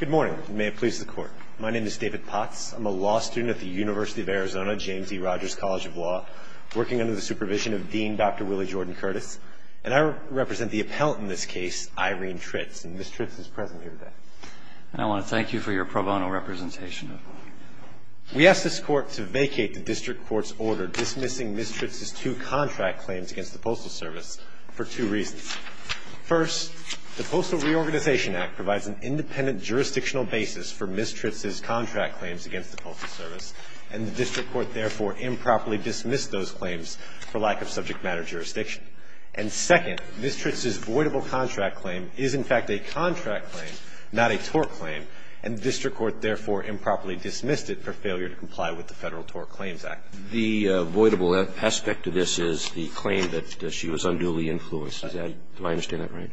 Good morning. May it please the Court. My name is David Potts. I'm a law student at the University of Arizona James E. Rogers College of Law, working under the supervision of Dean Dr. Willie Jordan Curtis, and I represent the appellant in this case, Irene Tritz, and Ms. Tritz is present here today. And I want to thank you for your pro bono representation. We asked this Court to vacate the District Court's order dismissing Ms. Tritz's two contract claims against the Postal Service for two reasons. First, the Postal Reorganization Act provides an independent jurisdictional basis for Ms. Tritz's contract claims against the Postal Service, and the District Court therefore improperly dismissed those claims for lack of subject matter jurisdiction. And second, Ms. Tritz's voidable contract claim is, in fact, a contract claim, not a tort claim, and the District Court therefore improperly dismissed it for failure to comply with the Federal Tort Claims Act. The voidable aspect of this is the claim that she was unduly influenced. Is that – do I understand that right?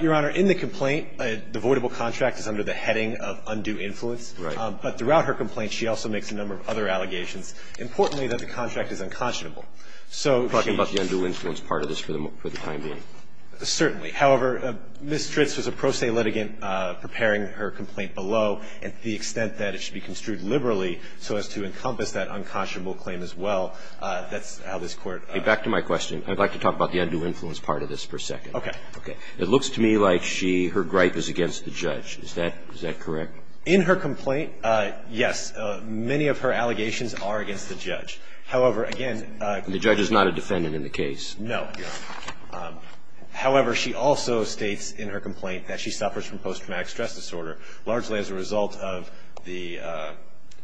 Your Honor, in the complaint, the voidable contract is under the heading of undue influence. Right. But throughout her complaint, she also makes a number of other allegations, importantly, that the contract is unconscionable. So if she – Talking about the undue influence part of this for the time being. Certainly. However, Ms. Tritz was a pro se litigant preparing her complaint below, and to the extent that it should be construed liberally so as to encompass that unconscionable claim as well, that's how this Court – Back to my question. I'd like to talk about the undue influence part of this for a second. Okay. Okay. It looks to me like she – her gripe is against the judge. Is that – is that correct? In her complaint, yes. Many of her allegations are against the judge. However, again – The judge is not a defendant in the case. No. However, she also states in her complaint that she suffers from post-traumatic stress disorder, largely as a result of the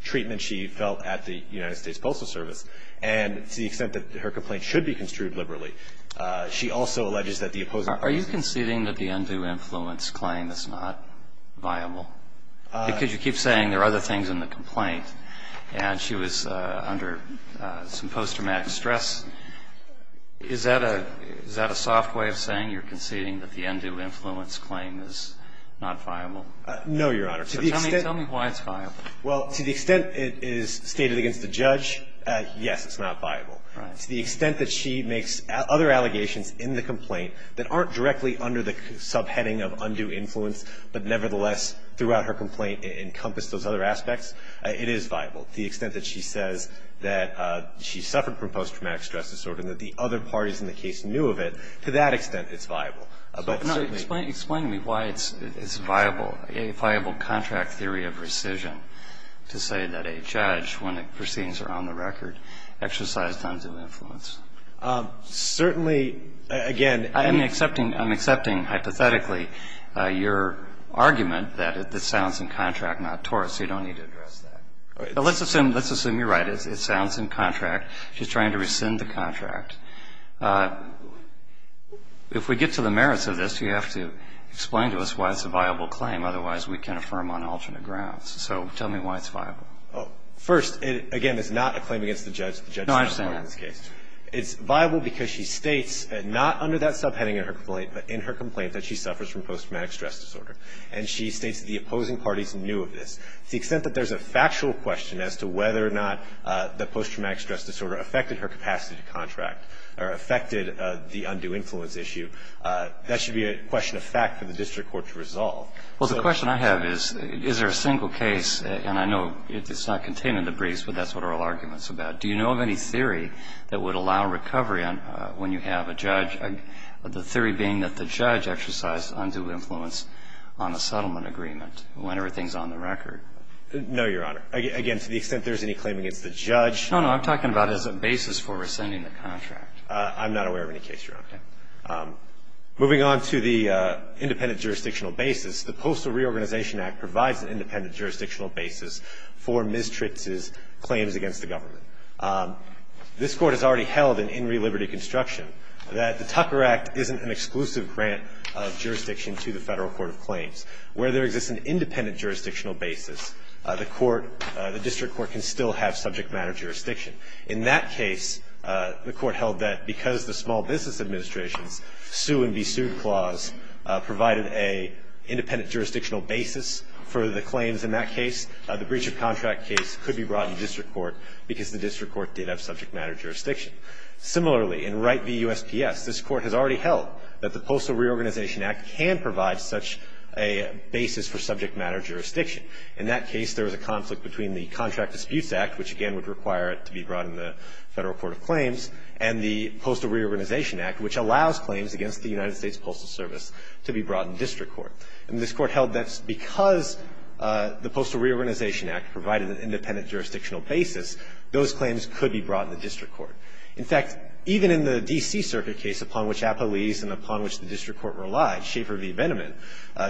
treatment she felt at the United States Postal Service. And to the extent that her complaint should be construed liberally, she also alleges that the opposing – Are you conceding that the undue influence claim is not viable? Because you keep saying there are other things in the complaint, and she was under some post-traumatic stress. Is that a – is that a soft way of saying you're conceding that the undue influence claim is not viable? No, Your Honor. To the extent – So tell me why it's viable. Well, to the extent it is stated against the judge, yes, it's not viable. Right. To the extent that she makes other allegations in the complaint that aren't directly under the subheading of undue influence, but nevertheless throughout her complaint encompass those other aspects, it is viable. To the extent that she says that she suffered from post-traumatic stress disorder and that the other parties in the case knew of it, to that extent it's viable. But certainly – Explain to me why it's viable, a viable contract theory of rescission, to say that a judge, when the proceedings are on the record, exercised undue influence. Certainly, again – I'm accepting – I'm accepting hypothetically your argument that this sounds in contract, not tort, so you don't need to address that. Let's assume you're right. It sounds in contract. She's trying to rescind the contract. If we get to the merits of this, you have to explain to us why it's a viable claim. Otherwise, we can't affirm on alternate grounds. So tell me why it's viable. First, again, it's not a claim against the judge. No, I understand that. It's viable because she states, not under that subheading in her complaint, but in her complaint that she suffers from post-traumatic stress disorder. And she states that the opposing parties knew of this. To the extent that there's a factual question as to whether or not the post-traumatic stress disorder affected her capacity to contract or affected the undue influence issue, that should be a question of fact for the district court to resolve. Well, the question I have is, is there a single case – and I know it's not contained in the briefs, but that's what oral argument's about – do you know of any theory that would allow recovery when you have a judge, the theory being that the judge exercised undue influence on a settlement agreement when everything's on the record? No, Your Honor. Again, to the extent there's any claim against the judge. No, no. I'm talking about as a basis for rescinding the contract. I'm not aware of any case, Your Honor. Okay. Moving on to the independent jurisdictional basis, the Postal Reorganization Act provides an independent jurisdictional basis for Ms. Tritz's claims against the government. This Court has already held in Inree Liberty Construction that the Tucker Act isn't an exclusive grant of jurisdiction to the Federal Court of Claims. Where there exists an independent jurisdictional basis, the court, the district court can still have subject matter jurisdiction. In that case, the Court held that because the Small Business Administration's sue-and-be-sued clause provided an independent jurisdictional basis for the claims in that case, the breach of contract case could be brought in the district court because the district court did have subject matter jurisdiction. Similarly, in Wright v. USPS, this Court has already held that the Postal Reorganization Act can provide such a basis for subject matter jurisdiction. In that case, there was a conflict between the Contract Disputes Act, which again would require it to be brought in the Federal Court of Claims, and the Postal Reorganization Act, which allows claims against the United States Postal Service to be brought in district court. And this Court held that because the Postal Reorganization Act provided an independent jurisdictional basis, those claims could be brought in the district court. In fact, even in the D.C. Circuit case upon which APA leaves and upon which the district court relies, Schaefer v. Veneman,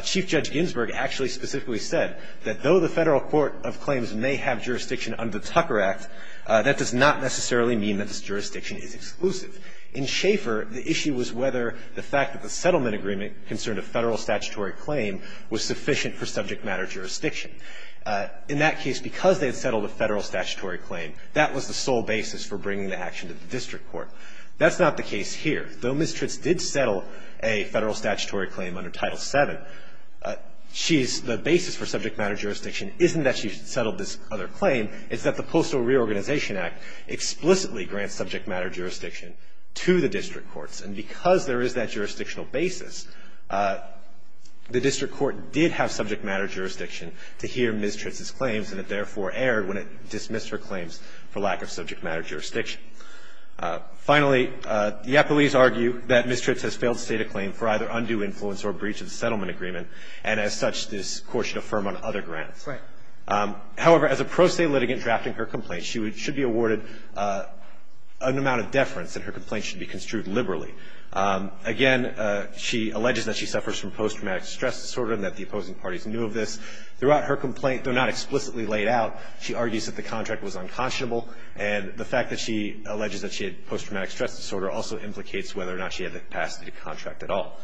Chief Judge Ginsburg actually specifically said that though the Federal Court of Claims may have jurisdiction under the Tucker Act, that does not necessarily mean that this jurisdiction is exclusive. In Schaefer, the issue was whether the fact that the settlement agreement concerned a Federal statutory claim was sufficient for subject matter jurisdiction. In that case, because they had settled a Federal statutory claim, that was the sole basis for bringing the action to the district court. That's not the case here. Though Ms. Tritz did settle a Federal statutory claim under Title VII, she's the basis for subject matter jurisdiction isn't that she settled this other claim. It's that the Postal Reorganization Act explicitly grants subject matter jurisdiction to the district courts. And because there is that jurisdictional basis, the district court did have subject matter jurisdiction to hear Ms. Tritz's claims, and it therefore erred when it dismissed her claims for lack of subject matter jurisdiction. Finally, the appellees argue that Ms. Tritz has failed to state a claim for either undue influence or breach of the settlement agreement, and as such, this Court should affirm on other grants. Kagan. However, as a pro se litigant drafting her complaint, she should be awarded an amount of deference that her complaint should be construed liberally. Again, she alleges that she suffers from post-traumatic stress disorder and that the opposing parties knew of this. Throughout her complaint, though not explicitly laid out, she argues that the contract was unconscionable, and the fact that she alleges that she had post-traumatic stress disorder also implicates whether or not she had the capacity to contract at all.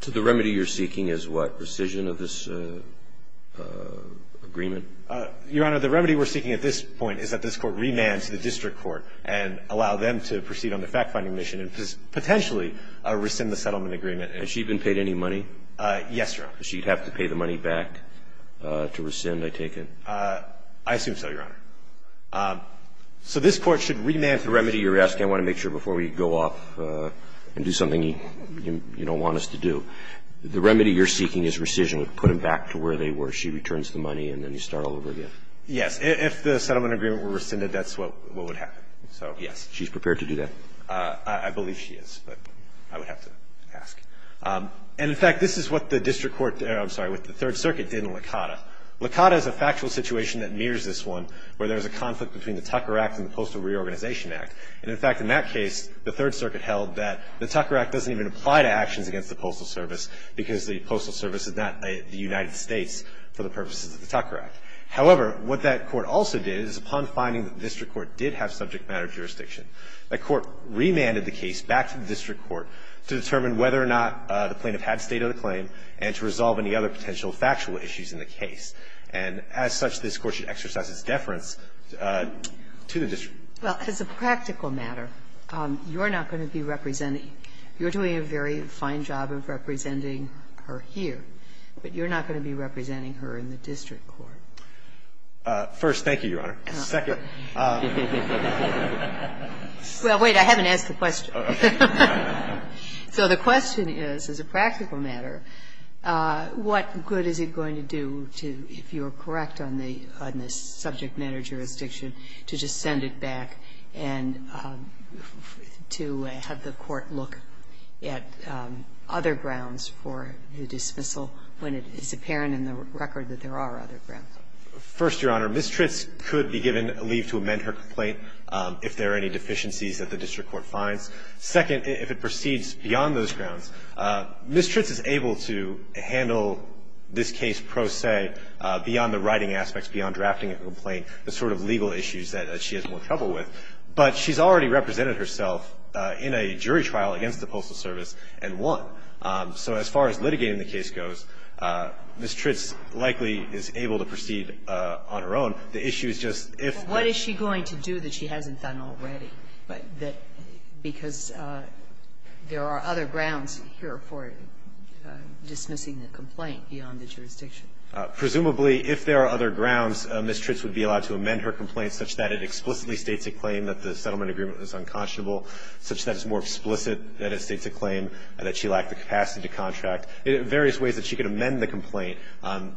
So the remedy you're seeking is what, rescission of this agreement? Your Honor, the remedy we're seeking at this point is that this Court remand to the district court and allow them to proceed on the fact-finding mission and potentially rescind the settlement agreement. Has she been paid any money? Yes, Your Honor. She'd have to pay the money back to rescind, I take it? I assume so, Your Honor. So this Court should remand the remedy you're asking. I want to make sure before we go off and do something you don't want us to do. The remedy you're seeking is rescission. Put them back to where they were. She returns the money and then you start all over again. Yes. If the settlement agreement were rescinded, that's what would happen. So, yes. She's prepared to do that? I believe she is, but I would have to ask. And, in fact, this is what the district court or, I'm sorry, what the Third Circuit did in Licata. Licata is a factual situation that mirrors this one where there's a conflict between the Tucker Act and the Postal Reorganization Act. And, in fact, in that case, the Third Circuit held that the Tucker Act doesn't even apply to actions against the Postal Service because the Postal Service is not the United States for the purposes of the Tucker Act. However, what that court also did is upon finding that the district court did have subject matter jurisdiction, that court remanded the case back to the district court to determine whether or not the plaintiff had stated a claim and to resolve any other potential factual issues in the case. And, as such, this Court should exercise its deference to the district court. Well, as a practical matter, you're not going to be representing her. You're doing a very fine job of representing her here, but you're not going to be representing her in the district court. First, thank you, Your Honor. Second. Well, wait. I haven't asked the question. So the question is, as a practical matter, what good is it going to do to, if you are correct on the subject matter jurisdiction, to just send it back and to have the court look at other grounds for the dismissal when it is apparent in the record that there are other grounds? First, Your Honor, Ms. Tritz could be given leave to amend her complaint if there are any deficiencies that the district court finds. Second, if it proceeds beyond those grounds, Ms. Tritz is able to handle this case pro se beyond the writing aspects, beyond drafting a complaint, the sort of legal issues that she has more trouble with. But she's already represented herself in a jury trial against the Postal Service and won. So as far as litigating the case goes, Ms. Tritz likely is able to proceed on her The issue is just if the ---- Ms. Tritz is able to proceed on her case, Ms. Tritz is able to proceed on her case because there are other grounds here for dismissing the complaint beyond the jurisdiction. Presumably, if there are other grounds, Ms. Tritz would be allowed to amend her complaint such that it explicitly states a claim that the settlement agreement was unconscionable, such that it's more explicit that it states a claim that she lacked the capacity to contract, various ways that she could amend the complaint,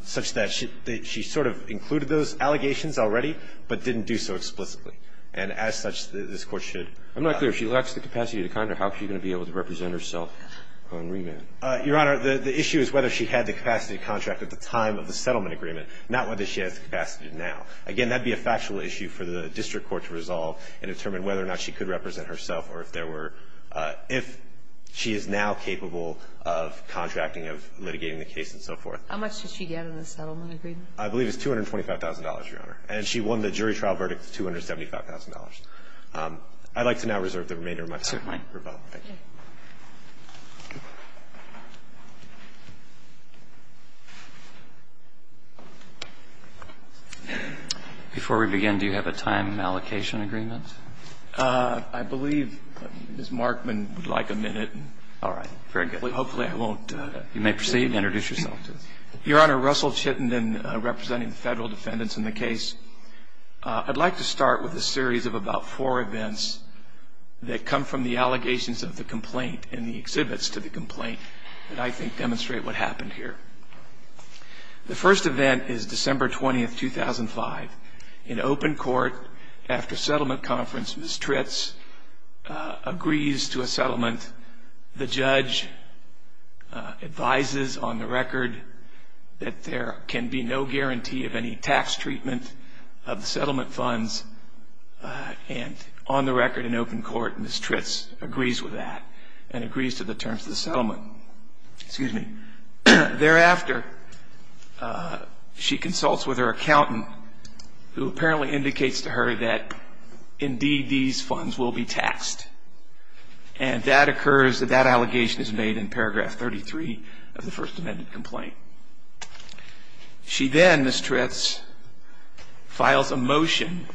such that she sort of included those allegations already but didn't do so explicitly. And as such, this Court should ---- I'm not clear. If she lacks the capacity to contract, how is she going to be able to represent herself on remand? Your Honor, the issue is whether she had the capacity to contract at the time of the settlement agreement, not whether she has the capacity now. Again, that would be a factual issue for the district court to resolve and determine whether or not she could represent herself or if there were ---- if she is now capable of contracting, of litigating the case and so forth. How much did she get in the settlement agreement? I believe it's $225,000, Your Honor. And she won the jury trial verdict at $275,000. I'd like to now reserve the remainder of my time. Certainly. Thank you. Before we begin, do you have a time allocation agreement? I believe Ms. Markman would like a minute. All right. Very good. Hopefully I won't ---- You may proceed. Introduce yourself. Your Honor, Russell Chittenden, representing the federal defendants in the case. I'd like to start with a series of about four events that come from the allegations of the complaint and the exhibits to the complaint that I think demonstrate what happened here. The first event is December 20, 2005. In open court, after settlement conference, Ms. Tritz agrees to a settlement. The judge advises on the record that there can be no guarantee of any tax treatment of the settlement funds. And on the record in open court, Ms. Tritz agrees with that and agrees to the terms of the settlement. Excuse me. Thereafter, she consults with her accountant who apparently indicates to her that indeed these funds will be taxed. And that occurs, that that allegation is made in paragraph 33 of the First Amendment complaint. She then, Ms. Tritz, files a motion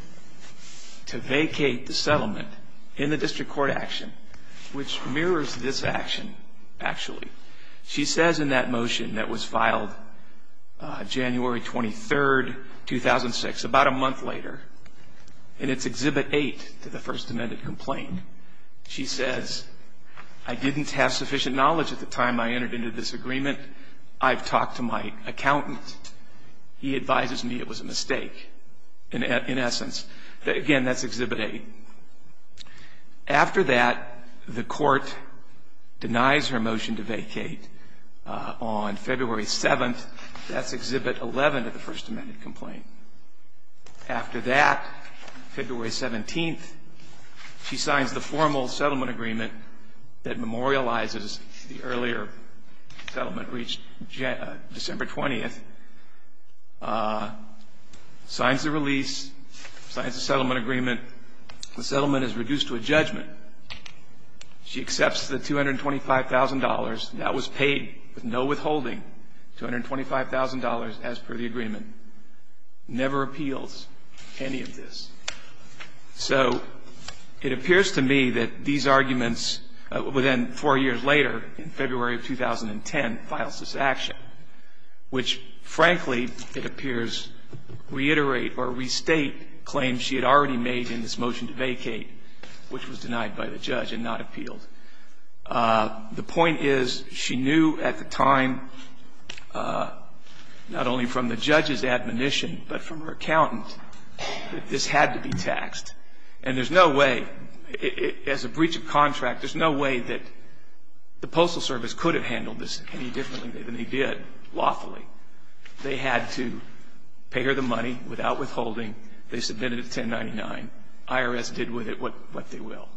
to vacate the settlement in the district court action, which mirrors this action actually. She says in that motion that was filed January 23, 2006, about a month later, and it's Exhibit 8 to the First Amendment complaint. She says, I didn't have sufficient knowledge at the time I entered into this agreement. I've talked to my accountant. He advises me it was a mistake, in essence. Again, that's Exhibit 8. After that, the court denies her motion to vacate. On February 7, that's Exhibit 11 to the First Amendment complaint. After that, February 17, she signs the formal settlement agreement that memorializes the earlier settlement reached December 20th, signs the release, signs the settlement agreement. The settlement is reduced to a judgment. She accepts the $225,000. That was paid with no withholding, $225,000 as per the agreement. Never appeals any of this. So it appears to me that these arguments within four years later, in February of 2010, files this action, which frankly, it appears, reiterate or restate claims she had already made in this motion to vacate, which was denied by the judge and not appealed. The point is, she knew at the time, not only from the judge's admonition, but from her accountant, that this had to be taxed. And there's no way, as a breach of contract, there's no way that the Postal Service could have handled this any differently than they did lawfully. They had to pay her the money without withholding. They submitted it $1099. IRS did with it what they will.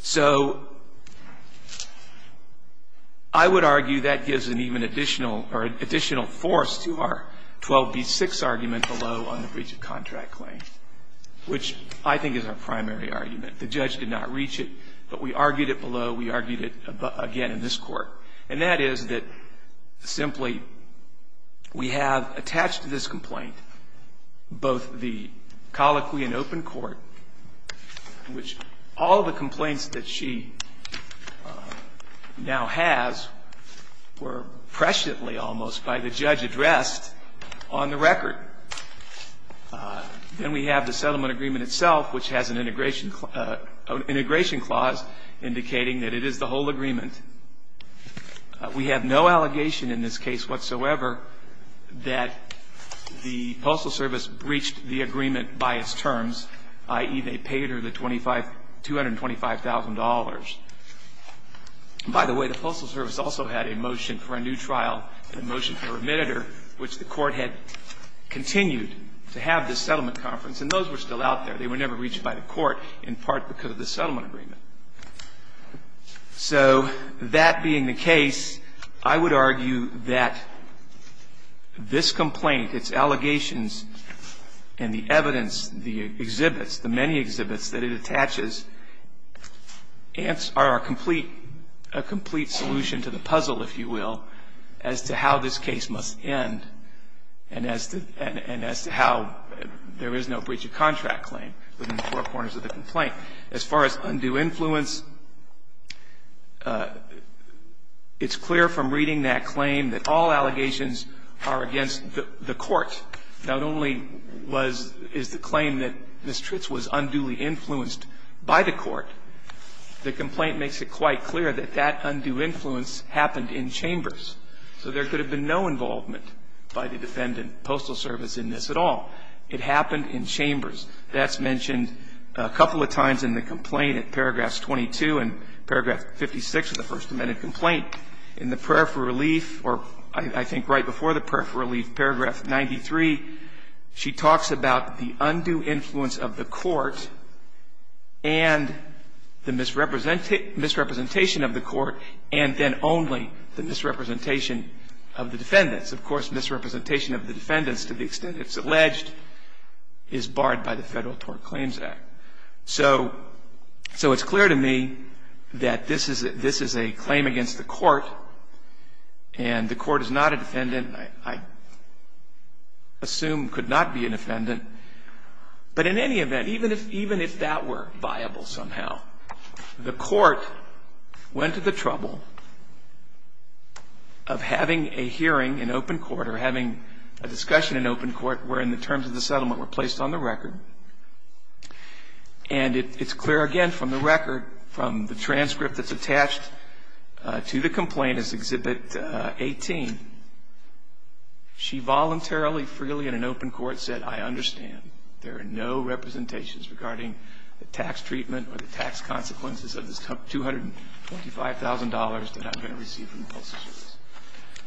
So I would argue that gives an even additional, or additional force to our 12B6 argument below on the breach of contract claim, which I think is our primary argument. The judge did not reach it, but we argued it below, we argued it again in this court. And that is that simply we have attached to this complaint both the colloquy in open court, which all the complaints that she now has were presciently almost by the judge addressed on the record. Then we have the settlement agreement itself, which has an integration clause indicating that it is the whole agreement. We have no allegation in this case whatsoever that the Postal Service breached the agreement by its terms, i.e., they paid her the $225,000. By the way, the Postal Service also had a motion for a new trial, a motion for remitter, which the court had continued to have this settlement conference. And those were still out there. They were never reached by the court, in part because of the settlement agreement. So that being the case, I would argue that this complaint, its allegations and the evidence, the exhibits, the many exhibits that it attaches are a complete solution to the puzzle, if you will, as to how this case must end and as to how there is no breach of contract claim within the four corners of the complaint. As far as undue influence, it's clear from reading that claim that all allegations are against the court. Not only was the claim that Ms. Tritz was unduly influenced by the court, the complaint makes it quite clear that that undue influence happened in chambers. So there could have been no involvement by the defendant, Postal Service, in this at all. It happened in chambers. That's mentioned a couple of times in the complaint at paragraphs 22 and paragraph 56 of the First Amendment complaint. In the prayer for relief, or I think right before the prayer for relief, paragraph 93, she talks about the undue influence of the court and the misrepresentation of the court and then only the misrepresentation of the defendants. Of course, misrepresentation of the defendants, to the extent it's alleged, is barred by the Federal Tort Claims Act. So it's clear to me that this is a claim against the court and the court is not a defendant. I assume could not be an offendant. But in any event, even if that were viable somehow, the court went to the trouble of having a hearing in open court or having a discussion in open court wherein the terms of the settlement were placed on the record. And it's clear, again, from the record, from the transcript that's attached to the complaint as Exhibit 18, she voluntarily, freely in an open court said, I understand. There are no representations regarding the tax treatment or the tax consequences of this $225,000 that I'm going to receive from the Postal Service.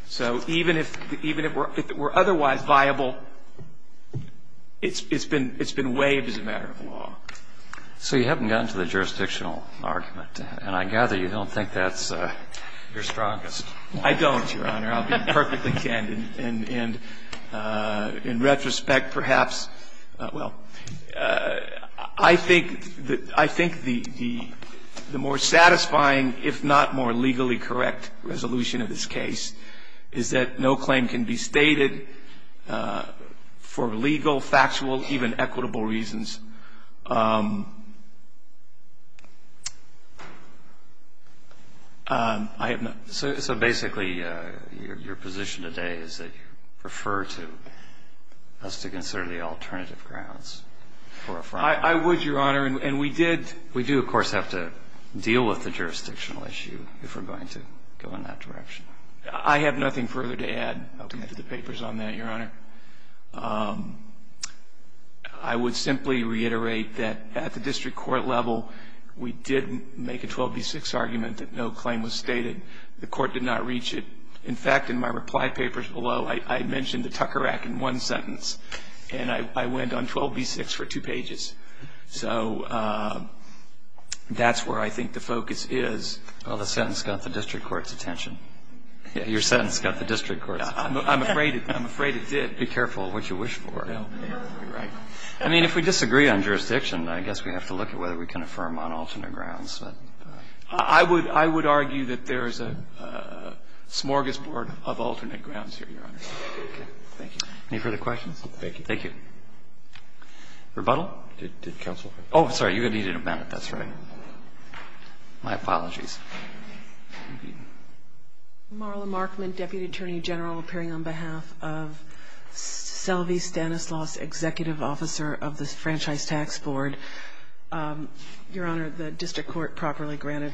So even if it were otherwise viable, it's been waived as a matter of law. So you haven't gotten to the jurisdictional argument. And I gather you don't think that's your strongest point. I don't, Your Honor. I'll be perfectly candid. In retrospect, perhaps, well, I think the more satisfying, if not more legally correct, resolution of this case is that no claim can be stated for legal, factual, even equitable reasons. I have not. So basically, your position today is that you refer to us to consider the alternative grounds for a front. I would, Your Honor. And we did. We do, of course, have to deal with the jurisdictional issue if we're going to go in that direction. I have nothing further to add to the papers on that, Your Honor. I would simply reiterate that at the district court level, we didn't make a 12B6 argument that no claim was stated. The court did not reach it. In fact, in my reply papers below, I mentioned the Tucker Act in one sentence. And I went on 12B6 for two pages. So that's where I think the focus is. Well, the sentence got the district court's attention. Your sentence got the district court's attention. I'm afraid it did. Be careful what you wish for. I mean, if we disagree on jurisdiction, I guess we have to look at whether we can affirm on alternate grounds. I would argue that there is a smorgasbord of alternate grounds here, Your Honor. Okay. Thank you. Any further questions? Thank you. Thank you. Rebuttal? Did counsel? Oh, I'm sorry. You're going to need an amendment. That's right. My apologies. Thank you. Marla Markman, Deputy Attorney General, appearing on behalf of Selvie Stanislaus, Executive Officer of the Franchise Tax Board. Your Honor, the district court properly granted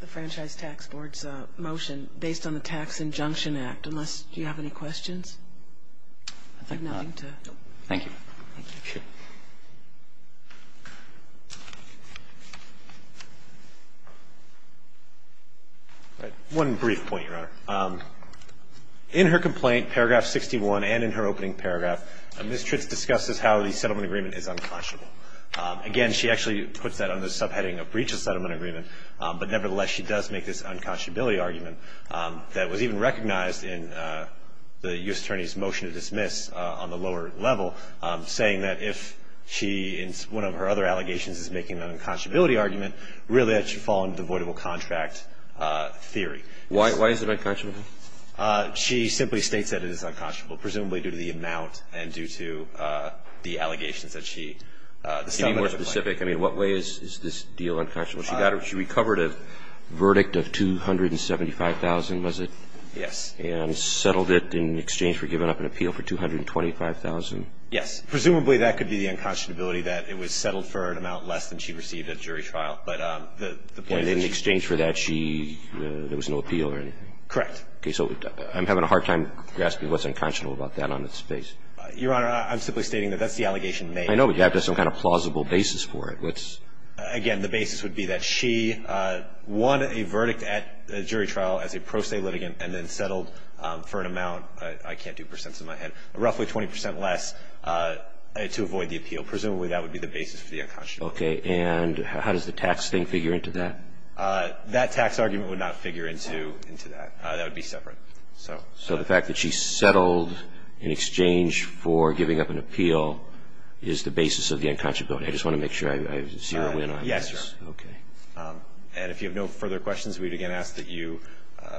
the Franchise Tax Board's motion based on the Tax Injunction Act, unless you have any questions. I have nothing to. Thank you. Thank you. One brief point, Your Honor. In her complaint, paragraph 61, and in her opening paragraph, Ms. Tritz discusses how the settlement agreement is unconscionable. Again, she actually puts that on the subheading of breach of settlement agreement, but nevertheless, she does make this unconscionability argument that was even recognized in the U.S. Attorney's motion to dismiss on the lower level, saying that if she, in one of her other allegations, is making an unconscionability argument, really that should fall under the voidable contract theory. Why is it unconscionable? She simply states that it is unconscionable, presumably due to the amount and due to the allegations that she established. To be more specific, I mean, what way is this deal unconscionable? She recovered a verdict of $275,000, was it? Yes. And settled it in exchange for giving up an appeal for $225,000? Yes. Presumably that could be the unconscionability, that it was settled for an amount less than she received at jury trial. And in exchange for that, there was no appeal or anything? Correct. Okay. So I'm having a hard time grasping what's unconscionable about that on its face. Your Honor, I'm simply stating that that's the allegation made. I know, but you have to have some kind of plausible basis for it. Again, the basis would be that she won a verdict at jury trial as a pro se litigant and then settled for an amount, I can't do percents in my head, roughly 20 percent less to avoid the appeal. Presumably that would be the basis for the unconscionability. Okay. And how does the tax thing figure into that? That tax argument would not figure into that. That would be separate. So the fact that she settled in exchange for giving up an appeal is the basis of the unconscionability. I just want to make sure I zero in on this. Yes, Your Honor. Okay. And if you have no further questions, we would again ask that you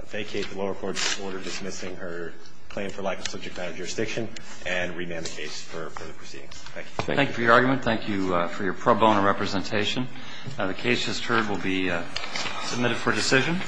vacate the lower court's order dismissing her claim for lack of subject matter jurisdiction and remand the case for further proceedings. Thank you. Thank you for your argument. Thank you for your pro bono representation. The case just heard will be submitted for decision.